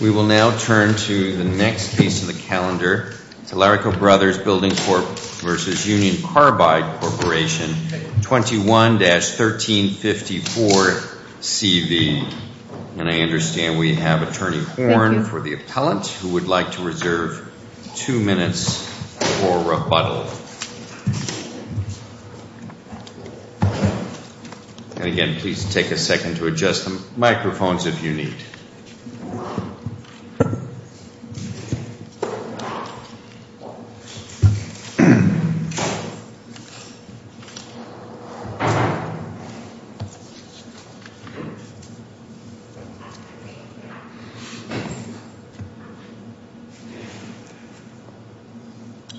We will now turn to the next piece of the calendar, Talarico Bros. Building Corp. v. Union Carbide Corporation, 21-1354CV. And I understand we have Attorney Horn for the appellant who would like to reserve two minutes for rebuttal. And again, please take a second to adjust the microphones if you need.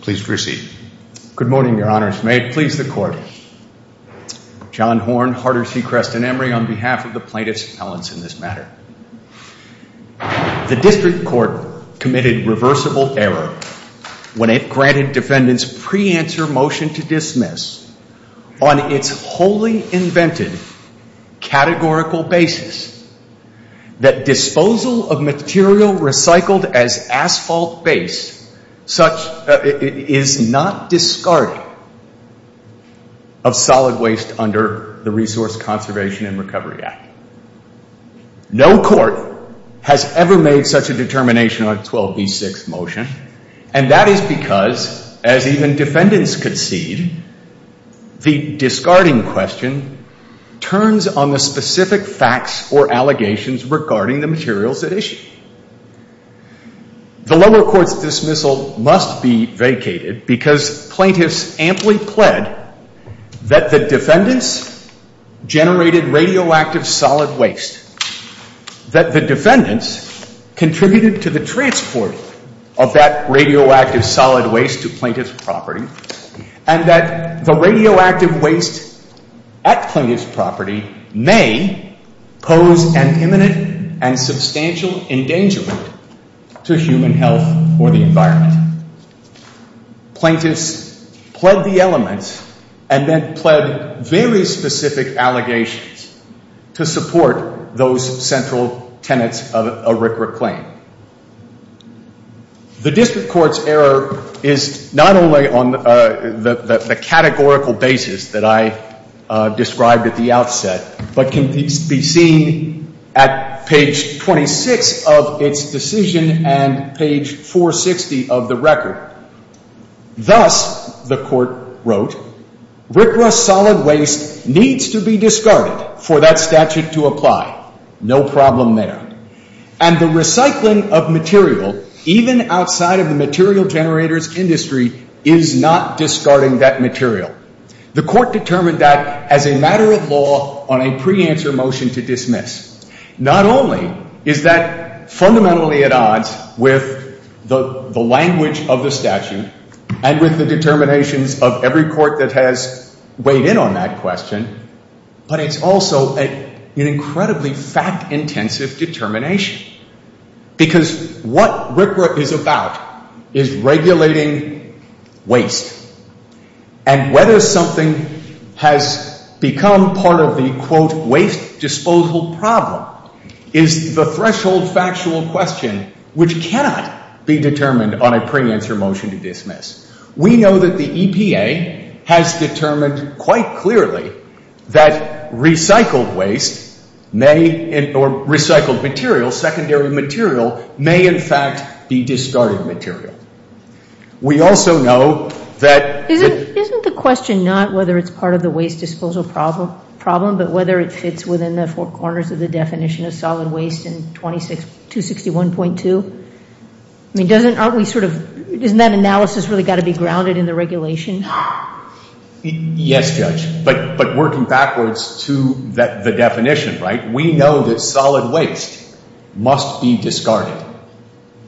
Please proceed. Good morning, Your Honors. May it please the Court, John Horn, Harder C. Creston Emory on behalf of the plaintiff's appellants in this matter. The District Court committed reversible error when it granted defendants' pre-answer motion to dismiss on its wholly invented categorical basis that disposal of material recycled as asphalt base is not discarded of solid waste under the Resource Conservation and Recovery Act. No court has ever made such a determination on a 12b6 motion, and that is because, as even defendants concede, the discarding question turns on the specific facts or allegations regarding the materials at issue. The lower court's dismissal must be vacated because plaintiffs amply pled that the defendants generated radioactive solid waste, that the defendants contributed to the transport of that radioactive solid waste to plaintiff's property, and that the endangerment to human health or the environment. Plaintiffs pled the elements and then pled very specific allegations to support those central tenets of a RCRA claim. The District Court's error is not only on the categorical basis that I described at the outset, but can be seen at page 26 of its decision and page 460 of the record. Thus, the court wrote, RCRA solid waste needs to be discarded for that statute to apply. No problem there. And the recycling of material, even outside of the material generators industry, is not discarding that material. The court determined that as a matter of law on a pre-answer motion to dismiss. Not only is that fundamentally at odds with the language of the statute and with the determinations of every court that has weighed in on that question, but it's also an incredibly fact-intensive determination. Because what RCRA is about is regulating waste. And whether something has become part of the, quote, waste disposal problem is the threshold factual question which cannot be determined on a pre-answer motion to dismiss. We know that the EPA has determined quite clearly that recycled waste may, or recycled material, secondary material, may in fact be discarded material. We also know that- Isn't the question not whether it's part of the waste disposal problem, but whether it fits within the four corners of the definition of solid waste in 261.2? I mean, doesn't, aren't we sort of, isn't that analysis really got to be grounded in the regulation? Yes, Judge. But working backwards to the definition, right? We know that solid waste must be discarded.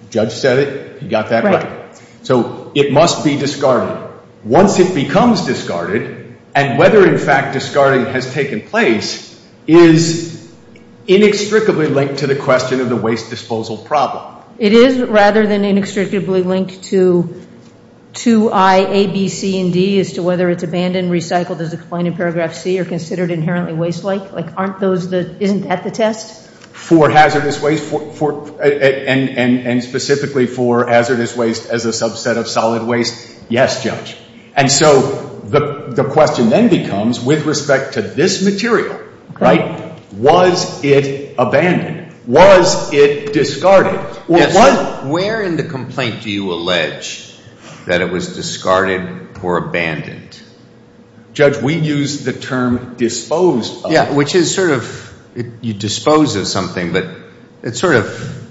Judge said it. You got that right. So it must be discarded. Once it becomes discarded, and whether in fact discarding has taken place, is inextricably linked to the question of the waste disposal problem. It is rather than inextricably linked to 2I, A, B, C, and D, as to whether it's abandoned, recycled, as explained in paragraph C, or considered inherently waste-like? Like, aren't those the, isn't that the test? For hazardous waste, and specifically for hazardous waste as a subset of solid waste, yes, Judge. And so the question then becomes, with respect to this material, right, was it abandoned? Was it discarded? Yes, sir. Where in the complaint do you allege that it was discarded or abandoned? Judge, we use the term disposed of. Yeah, which is sort of, you dispose of something, but it's sort of,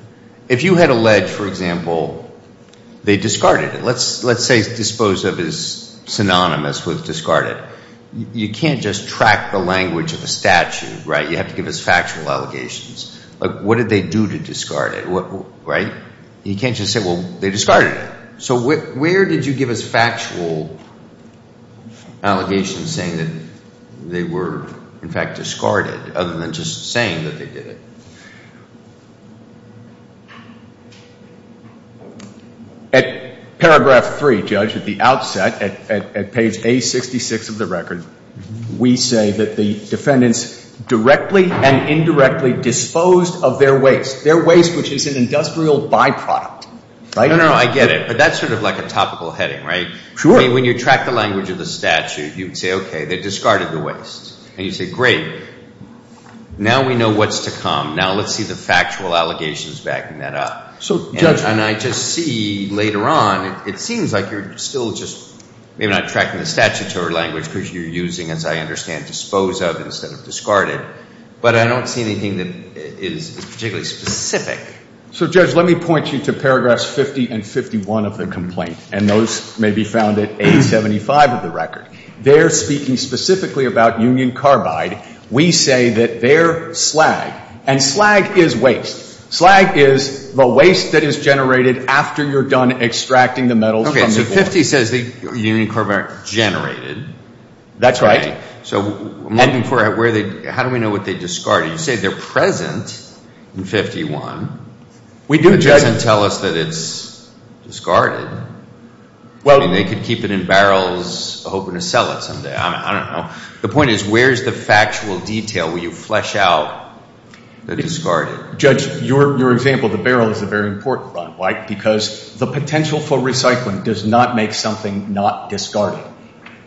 if you had alleged, for example, they discarded it. Let's say dispose of is synonymous with discarded. You can't just track the language of a statute, right? You have to give us factual allegations. Like, what did they do to discard it, right? And you can't just say, well, they discarded it. So where did you give us factual allegations saying that they were, in fact, discarded other than just saying that they did it? At paragraph three, Judge, at the outset, at page A66 of the record, we say that the defendants directly and indirectly disposed of their waste, their waste which is an industrial byproduct, right? No, no, I get it. But that's sort of like a topical heading, right? Sure. I mean, when you track the language of the statute, you would say, okay, they discarded the waste. And you say, great, now we know what's to come. Now let's see the factual allegations backing that up. So, Judge. And I just see later on, it seems like you're still just maybe not tracking the statutory language because you're using, as I understand, dispose of instead of discarded. But I don't see anything that is particularly specific. So Judge, let me point you to paragraphs 50 and 51 of the complaint. And those may be found at 875 of the record. They're speaking specifically about union carbide. We say that they're slag. And slag is waste. Slag is the waste that is generated after you're done extracting the metals from the floor. Okay, so 50 says the union carbide generated. That's right. So I'm looking for where they, how do we know what they discarded? You say they're present in 51. We do know. But it doesn't tell us that it's discarded. I mean, they could keep it in barrels hoping to sell it someday. I don't know. The point is, where's the factual detail where you flesh out the discarded? Judge, your example of the barrel is a very important one. Why? Because the potential for recycling does not make something not discarded.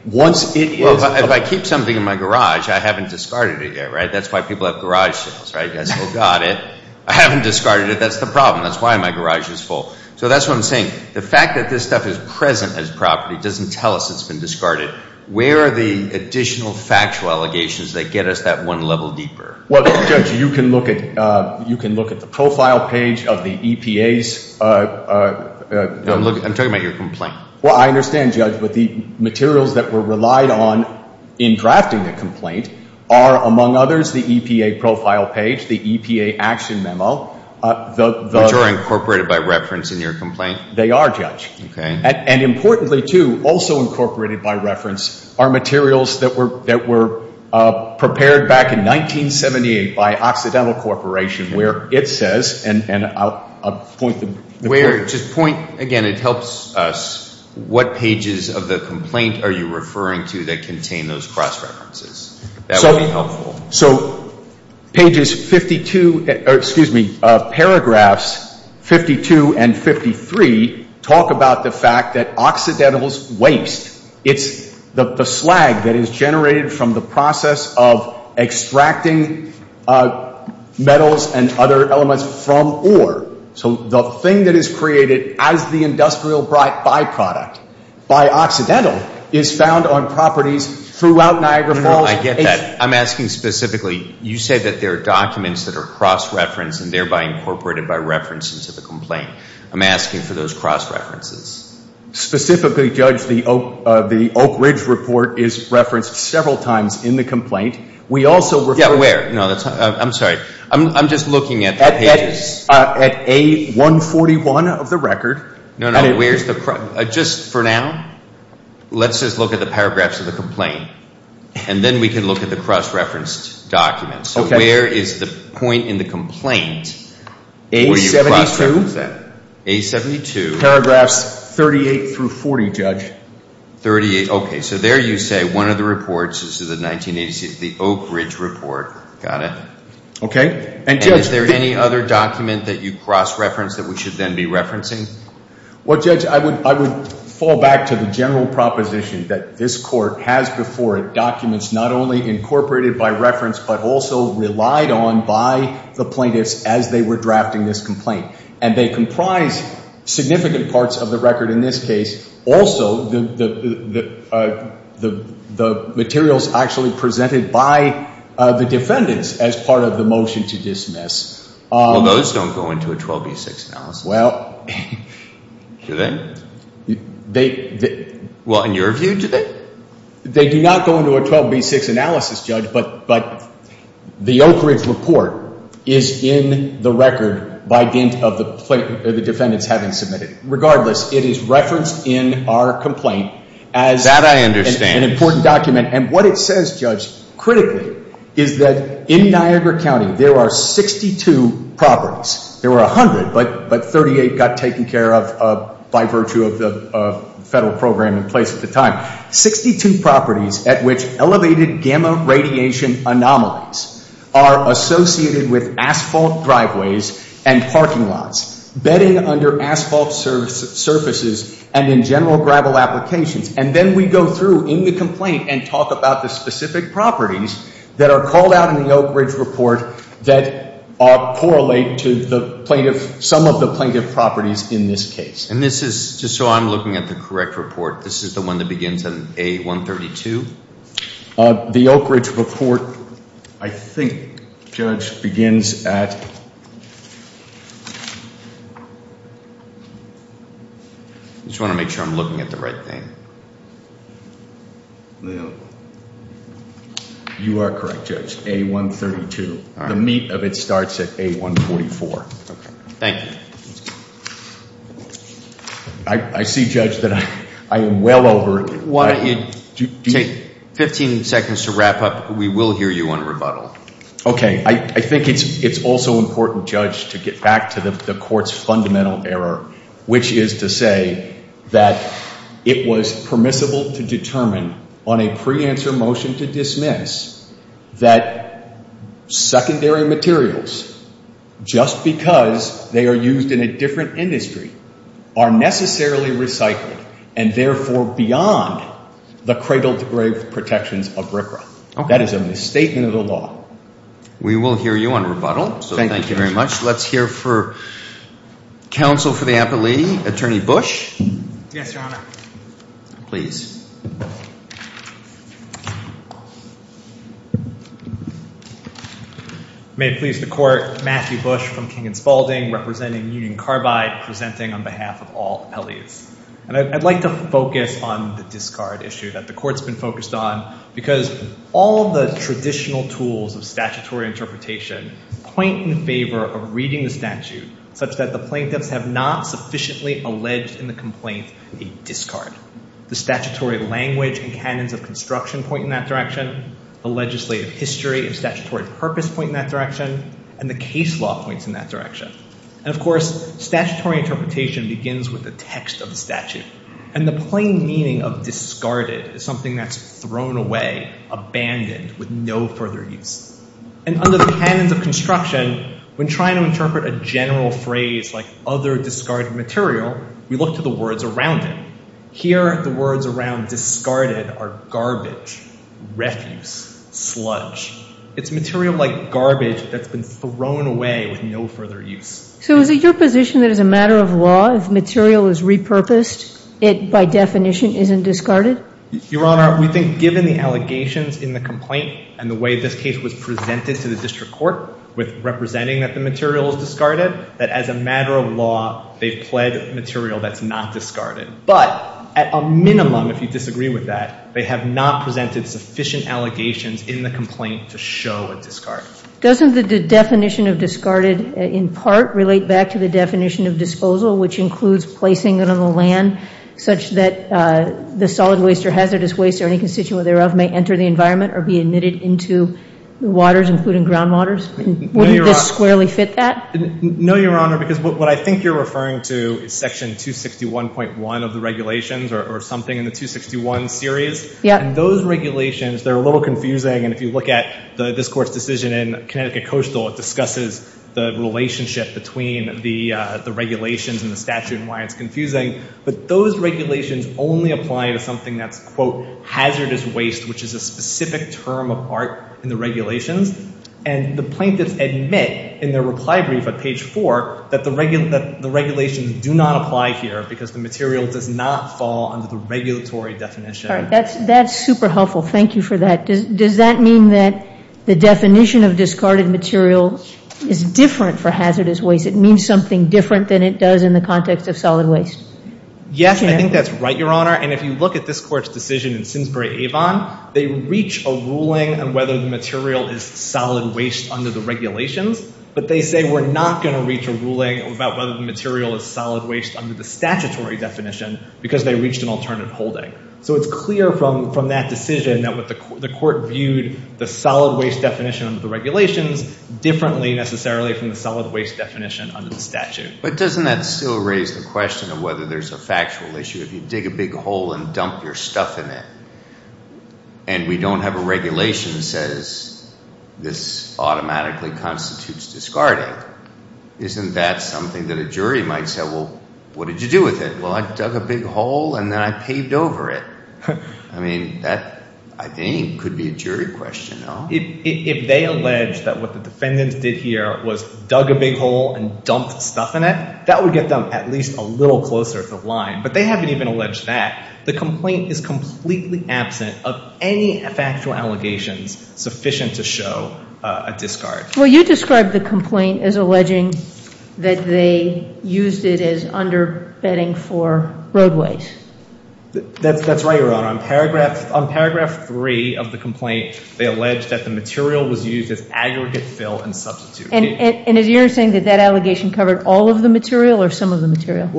Once it is... Well, if I keep something in my garage, I haven't discarded it yet, right? That's why people have garage sales, right? You guys still got it. I haven't discarded it. That's the problem. That's why my garage is full. So that's what I'm saying. The fact that this stuff is present as property doesn't tell us it's been discarded. Where are the additional factual allegations that get us that one level deeper? Well, Judge, you can look at the profile page of the EPA's... I'm talking about your complaint. Well, I understand, Judge, but the materials that were relied on in drafting the complaint are, among others, the EPA profile page, the EPA action memo, the... Which are incorporated by reference in your complaint? They are, Judge. Okay. And importantly, too, also incorporated by reference are materials that were prepared back in 1978 by Occidental Corporation, where it says, and I'll point the point... Just point, again, it helps us, what pages of the complaint are you referring to that would be helpful? So pages 52, excuse me, paragraphs 52 and 53 talk about the fact that Occidental's waste, it's the slag that is generated from the process of extracting metals and other elements from ore. So the thing that is created as the industrial byproduct by Occidental is found on properties throughout Niagara Falls. I get that. I'm asking specifically, you say that there are documents that are cross-referenced and thereby incorporated by reference into the complaint. I'm asking for those cross-references. Specifically, Judge, the Oak Ridge report is referenced several times in the complaint. We also refer... Yeah, where? No, that's not... I'm sorry. I'm just looking at the pages. At A141 of the record. No, no. Where's the... Just for now, let's just look at the paragraphs of the complaint, and then we can look at the cross-referenced documents. So where is the point in the complaint where you cross-referenced that? A72. A72. Paragraphs 38 through 40, Judge. 38. Okay. So there you say one of the reports, this is the 1986, the Oak Ridge report. Got it. Okay. And Judge... Well, Judge, I would fall back to the general proposition that this court has before it documents not only incorporated by reference, but also relied on by the plaintiffs as they were drafting this complaint. And they comprise significant parts of the record in this case. Also, the materials actually presented by the defendants as part of the motion to dismiss. Well, those don't go into a 12B6 analysis. Do they? Well, in your view, do they? They do not go into a 12B6 analysis, Judge, but the Oak Ridge report is in the record by dint of the defendants having submitted it. Regardless, it is referenced in our complaint as an important document. That I understand. And what it says, Judge, critically, is that in Niagara County, there are 62 properties. There were 100, but 38 got taken care of by virtue of the federal program in place at the time. 62 properties at which elevated gamma radiation anomalies are associated with asphalt driveways and parking lots, bedding under asphalt surfaces, and in general gravel applications. And then we go through in the complaint and talk about the specific properties that are called out in the Oak Ridge report that correlate to some of the plaintiff properties in this case. And this is, just so I'm looking at the correct report, this is the one that begins in A132? The Oak Ridge report, I think, Judge, begins at... I just want to make sure I'm looking at the right thing. You are correct, Judge. A132. The meat of it starts at A144. Thank you. I see, Judge, that I am well over... Why don't you take 15 seconds to wrap up. We will hear you on rebuttal. Okay. I think it's also important, Judge, to get back to the court's fundamental error, which is to say that it was permissible to determine on a pre-answer motion to dismiss that secondary materials, just because they are used in a different industry, are necessarily recycled and therefore beyond the cradle-to-grave protections of RCRA. That is a misstatement of the law. We will hear you on rebuttal. Thank you very much. Let's hear for counsel for the appellee, Attorney Bush. Yes, Your Honor. Please. May it please the court, Matthew Bush from King & Spaulding, representing Union Carbide, presenting on behalf of all appellees. And I'd like to focus on the discard issue that the court's been focused on, because all the traditional tools of statutory interpretation point in favor of reading the statute such that the plaintiffs have not sufficiently alleged in the complaint a discard. The statutory language and canons of construction point in that direction, the legislative history and statutory purpose point in that direction, and the case law points in that direction. And, of course, statutory interpretation begins with the text of the statute. And the plain meaning of discarded is something that's thrown away, abandoned, with no further use. And under the canons of construction, when trying to interpret a general phrase like other discarded material, we look to the words around it. Here, the words around discarded are garbage, refuse, sludge. It's material like garbage that's been thrown away with no further use. So is it your position that as a matter of law, if material is repurposed, it, by definition, isn't discarded? Your Honor, we think given the allegations in the complaint and the way this case was presented to the district court with representing that the material is discarded, that as a matter of law, they've pled material that's not discarded. But at a minimum, if you disagree with that, they have not presented sufficient allegations in the complaint to show a discard. Doesn't the definition of discarded, in part, relate back to the definition of disposal, which includes placing it on the land such that the solid waste or hazardous waste or any constituent thereof may enter the environment or be emitted into waters, including groundwaters? Wouldn't this squarely fit that? No, Your Honor, because what I think you're referring to is section 261.1 of the regulations or something in the 261 series. And those regulations, they're a little confusing. And if you look at this court's decision in Connecticut Coastal, it discusses the relationship between the regulations and the statute and why it's confusing. But those regulations only apply to something that's, quote, hazardous waste, which is a specific term of art in the regulations. And the plaintiffs admit in their reply brief at page 4 that the regulations do not apply here because the material does not fall under the regulatory definition. That's super helpful. Thank you for that. Does that mean that the definition of discarded material is different for hazardous waste? It means something different than it does in the context of solid waste? Yes, I think that's right, Your Honor. And if you look at this court's decision in Simsbury-Avon, they reach a ruling on whether the material is solid waste under the regulations. But they say we're not going to reach a ruling about whether the material is solid waste under the statutory definition because they reached an alternative holding. So it's clear from that decision that the court viewed the solid waste definition of the regulations differently necessarily from the solid waste definition under the statute. But doesn't that still raise the question of whether there's a factual issue? If you dig a big hole and dump your stuff in it and we don't have a regulation that says this automatically constitutes discarding, isn't that something that a jury might say, well, what did you do with it? Well, I dug a big hole and then I paved over it. I mean, that, I think, could be a jury question, no? If they allege that what the defendants did here was dug a big hole and dumped stuff in it, that would get them at least a little closer to the line. But they haven't even alleged that. The complaint is completely absent of any factual allegations sufficient to show a discard. Well, you described the complaint as alleging that they used it as underbedding for roadways. That's right, Your Honor. On paragraph three of the complaint, they allege that the material was used as aggregate fill and substitute. And is your saying that that allegation covered all of the material or some of the material?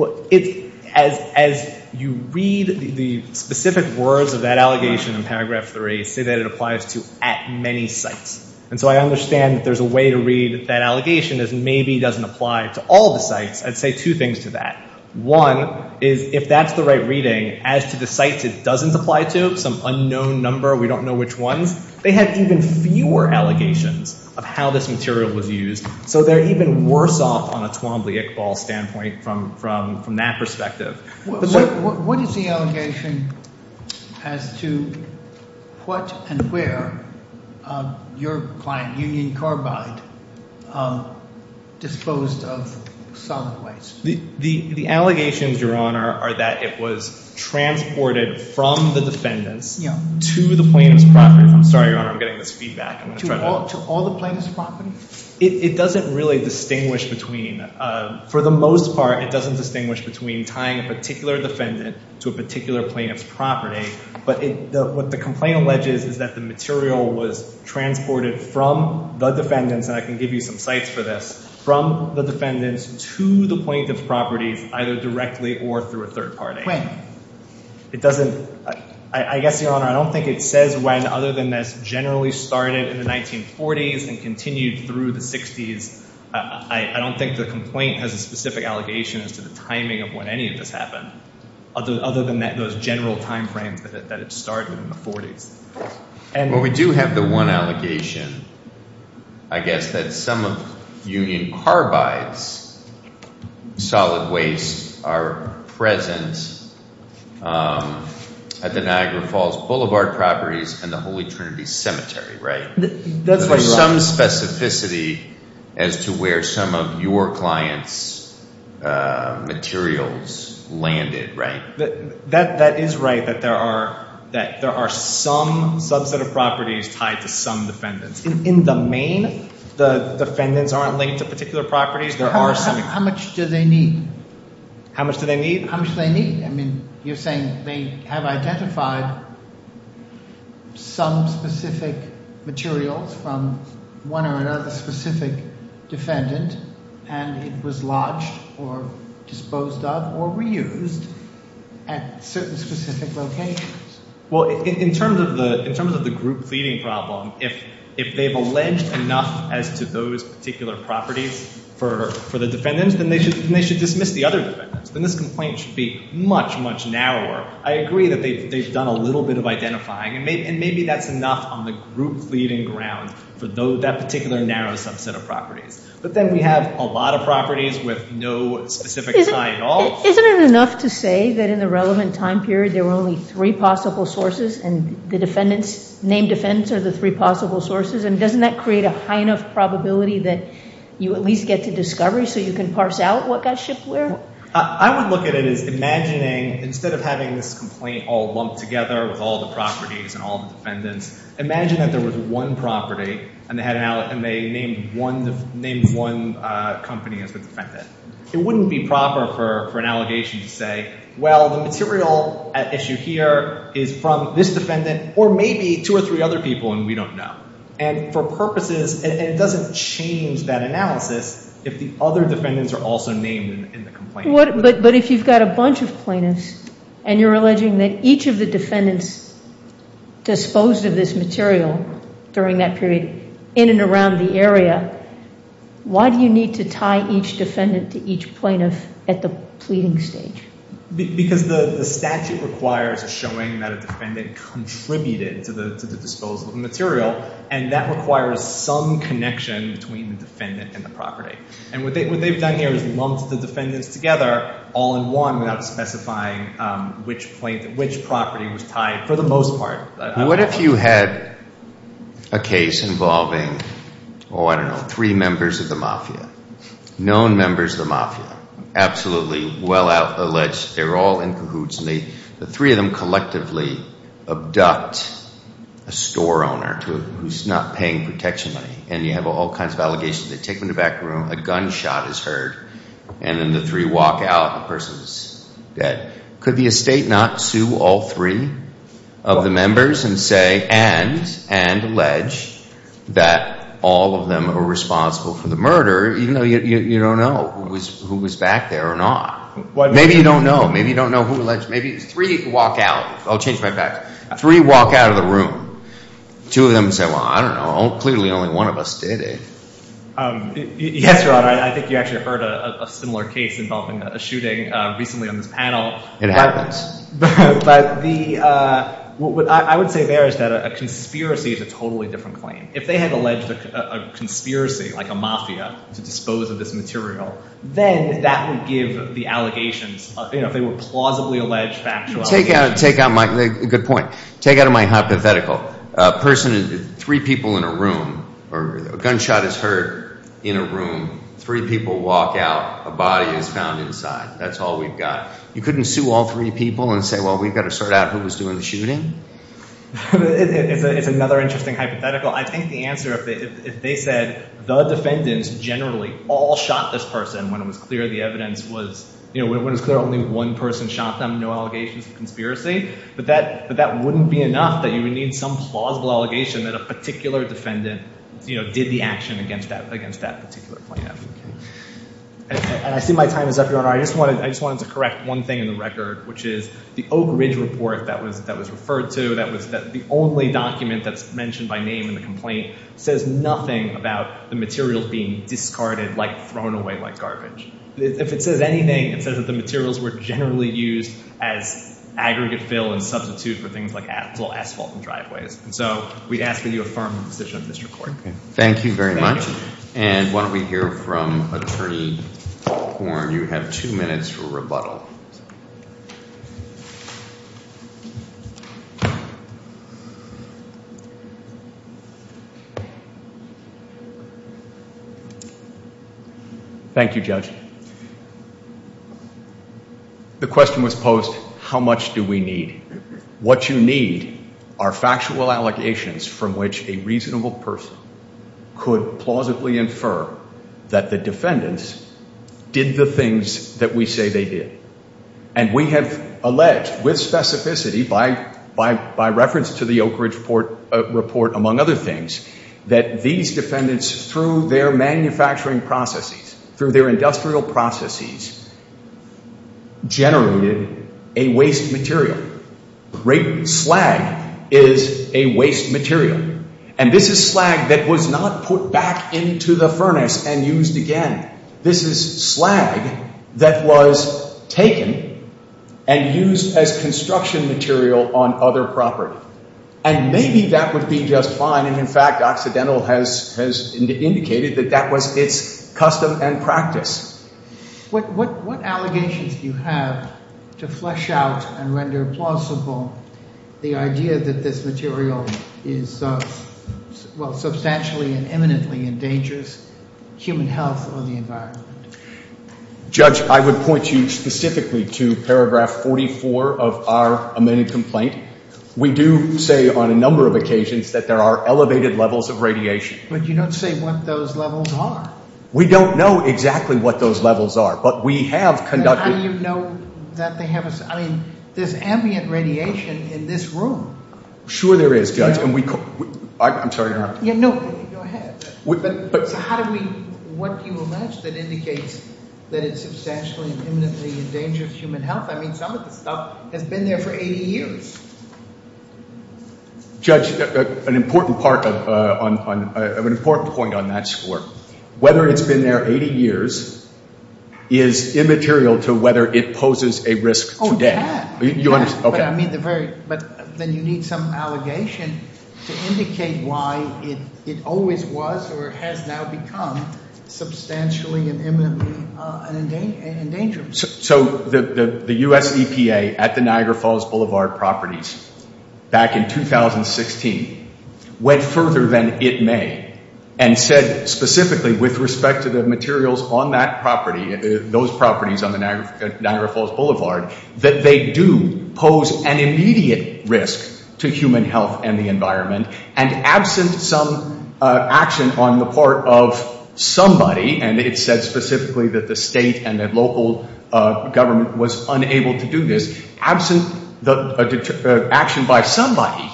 As you read the specific words of that allegation in paragraph three, say that it applies to at many sites. And so I understand that there's a way to read that allegation as maybe doesn't apply to all the sites. I'd say two things to that. One is if that's the right reading, as to the sites it doesn't apply to, some unknown number, we don't know which ones, they have even fewer allegations of how this material was used. So they're even worse off on a Twombly-Iqbal standpoint from that perspective. What is the allegation as to what and where your client, Union Carbide, disposed of solid waste? The allegations, Your Honor, are that it was transported from the defendants to the plaintiff's property. I'm sorry, Your Honor, I'm getting this feedback. To all the plaintiff's property? It doesn't really distinguish between, for the most part, it doesn't distinguish between tying a particular defendant to a particular plaintiff's property. But what the complaint alleges is that the material was transported from the defendants, and I can give you some sites for this, from the defendants to the plaintiff's properties either directly or through a third party. When? It doesn't, I guess, Your Honor, I don't think it says when other than this generally started in the 1940s and continued through the 60s. I don't think the complaint has a specific allegation as to the timing of when any of this happened, other than those general timeframes that it started in the 40s. Well, we do have the one allegation, I guess, that some of Union Carbide's solid waste are present at the Niagara Falls Boulevard properties and the Holy Trinity Cemetery, right? That's what you're asking. There's some specificity as to where some of your client's materials landed, right? That is right, that there are some subset of properties tied to some defendants. In the main, the defendants aren't linked to particular properties. How much do they need? How much do they need? How much do they need? I mean, you're saying they have identified some specific materials from one or another specific defendant and it was lodged or disposed of or reused at certain specific locations. Well, in terms of the group pleading problem, if they've alleged enough as to those particular properties for the defendants, then they should dismiss the other defendants. Then this complaint should be much, much narrower. I agree that they've done a little bit of identifying and maybe that's enough on the group pleading ground for that particular narrow subset of properties. But then we have a lot of properties with no specific tie at all. Isn't it enough to say that in the relevant time period there were only three possible sources and the defendants, named defendants, are the three possible sources? Doesn't that create a high enough probability that you at least get to discovery so you can parse out what got shipped where? I would look at it as imagining, instead of having this complaint all lumped together with all the properties and all the defendants, imagine that there was one property and they named one company as the defendant. It wouldn't be proper for an allegation to say, well, the material at issue here is from this defendant or maybe two or three other people and we don't know. For purposes, it doesn't change that analysis if the other defendants are also named in the complaint. But if you've got a bunch of plaintiffs and you're alleging that each of the defendants disposed of this material during that period in and around the area, why do you need to tie each defendant to each plaintiff at the pleading stage? Because the statute requires a showing that a defendant contributed to the disposal of the material and that requires some connection between the defendant and the property. And what they've done here is lumped the defendants together all in one without specifying which property was tied for the most part. What if you had a case involving, oh, I don't know, three members of the mafia, known members of the mafia, absolutely well-alleged. They're all in cahoots and the three of them collectively abduct a store owner who's not paying protection money and you have all kinds of allegations. They take them to the back room, a gunshot is heard, and then the three walk out and the person is dead. Could the estate not sue all three of the members and say and allege that all of them were responsible for the murder even though you don't know who was back there or not? Maybe you don't know. Maybe you don't know who alleged. Maybe three walk out. I'll change my back. Three walk out of the room. Two of them say, well, I don't know. Clearly only one of us did it. Yes, Your Honor. I think you actually heard a similar case involving a shooting recently on this panel. It happens. But I would say there is that a conspiracy is a totally different claim. If they had alleged a conspiracy like a mafia to dispose of this material, then that would give the allegations, if they were plausibly alleged, factual allegations. Good point. Take out of my hypothetical. A person, three people in a room, or a gunshot is heard in a room. Three people walk out. A body is found inside. That's all we've got. You couldn't sue all three people and say, well, we've got to sort out who was doing the shooting? It's another interesting hypothetical. I'd take the answer if they said the defendants generally all shot this person when it was clear the evidence was, when it was clear only one person shot them, no allegations of conspiracy. But that wouldn't be enough that you would need some plausible allegation that a particular defendant did the action against that particular plaintiff. And I see my time is up, Your Honor. I just wanted to correct one thing in the record, which is the Oak Ridge report that was referred to, the only document that's mentioned by name in the complaint says nothing about the materials being discarded, like thrown away like garbage. If it says anything, it says that the materials were generally used as aggregate fill and substitute for things like asphalt and driveways. And so we'd ask that you affirm the position of the district court. Thank you very much. And why don't we hear from Attorney Horn. You have two minutes for rebuttal. Thank you, Your Honor. Thank you, Judge. The question was posed, how much do we need? What you need are factual allegations from which a reasonable person could plausibly infer that the defendants did the things that we say they did. And we have alleged with specificity by reference to the Oak Ridge report, among other things, that these defendants, through their manufacturing processes, through their industrial processes, generated a waste material. Great slag is a waste material. And this is slag that was not put back into the furnace and used again. This is slag that was taken and used as construction material on other property. And maybe that would be just fine. And in fact, Occidental has indicated that that was its custom and practice. What allegations do you have to flesh out and render plausible the idea that this material is, well, substantially and imminently endangers human health or the environment? Judge, I would point you specifically to paragraph 44 of our amended complaint. We do say on a number of occasions that there are elevated levels of radiation. But you don't say what those levels are. We don't know exactly what those levels are. But we have conducted... How do you know that they have... I mean, there's ambient radiation in this room. Sure there is, Judge. I'm sorry, Your Honor. No, go ahead. So how do we... What do you imagine that indicates that it substantially and imminently endangers human health? I mean, some of the stuff has been there for 80 years. Judge, an important point on that score. Whether it's been there 80 years is immaterial to whether it poses a risk today. Oh, yeah. You understand? But then you need some allegation to indicate why it always was or has now become substantially and imminently an endangerment. So the U.S. EPA at the Niagara Falls Boulevard properties back in 2016 went further than it may and said specifically with respect to the materials on that property, those properties on the Niagara Falls Boulevard, that they do pose an immediate risk to human health and the environment. And absent some action on the part of somebody, and it said specifically that the state and the local government was unable to do this, absent action by somebody,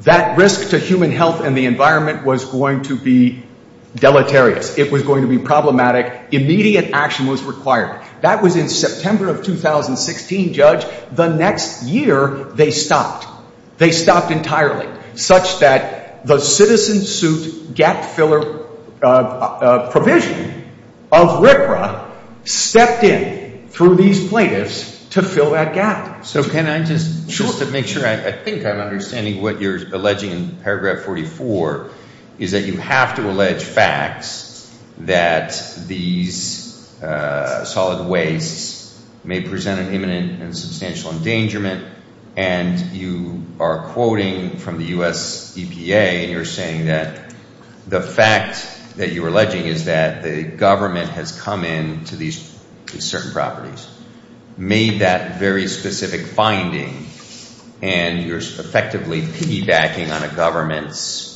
that risk to human health and the environment was going to be deleterious. It was going to be problematic. Immediate action was required. That was in September of 2016, Judge. The next year, they stopped. They stopped entirely such that the citizen suit gap filler provision of RCRA stepped in through these plaintiffs to fill that gap. So can I just make sure? I think I'm understanding what you're alleging in paragraph 44 is that you have to allege facts that these solid wastes may present an imminent and substantial endangerment, and you are quoting from the U.S. EPA, and you're saying that the fact that you're alleging is that the government has come in to these certain properties, made that very specific finding, and you're effectively piggybacking on a government's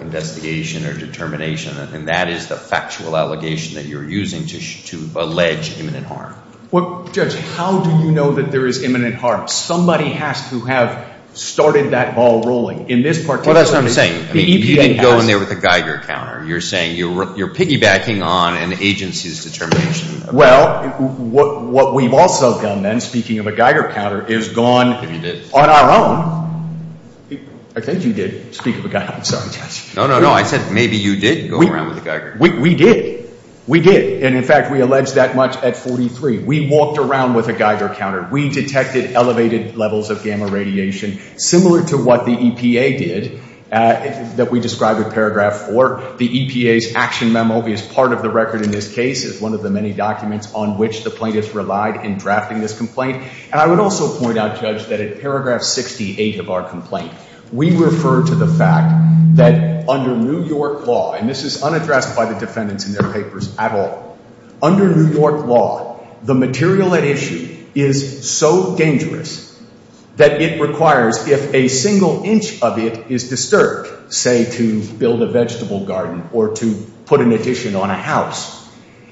investigation or determination, and that is the factual allegation that you're using to allege imminent harm. Well, Judge, how do you know that there is imminent harm? Somebody has to have started that ball rolling. In this particular case, the EPA has. Well, that's what I'm saying. You didn't go in there with a Geiger counter. You're saying you're piggybacking on an agency's determination. Well, what we've also done then, speaking of a Geiger counter, is gone on our own. I think you did speak of a Geiger counter. No, no, no. I said maybe you did go around with a Geiger counter. We did. We did. And in fact, we alleged that much at 43. We walked around with a Geiger counter. We detected elevated levels of gamma radiation, similar to what the EPA did that we described in paragraph 4. The EPA's action memo is part of the record in this case. It's one of the many documents on which the plaintiffs relied in drafting this complaint. And I would also point out, Judge, that in paragraph 68 of our complaint, we refer to the fact that under New York law, and this is unaddressed by the defendants in their papers at all, under New York law, the material at issue is so dangerous that it requires, if a single inch of it is disturbed, say to build a vegetable garden or to put an addition on a house,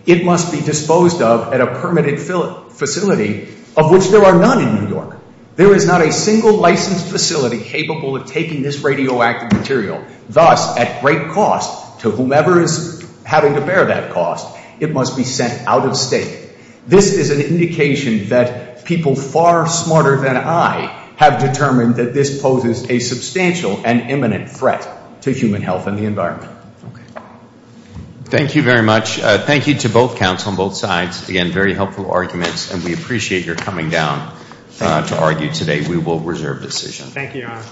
it must be disposed of at a permitted facility of which there are none in New York. There is not a single licensed facility capable of taking this radioactive material. Thus, at great cost to whomever is having to bear that cost, it must be sent out of state. This is an indication that people far smarter than I have determined that this poses a substantial and imminent threat to human health and the environment. Thank you very much. Thank you to both counts on both sides. Again, very helpful arguments and we appreciate your coming down to argue today. Thank you, Your Honor.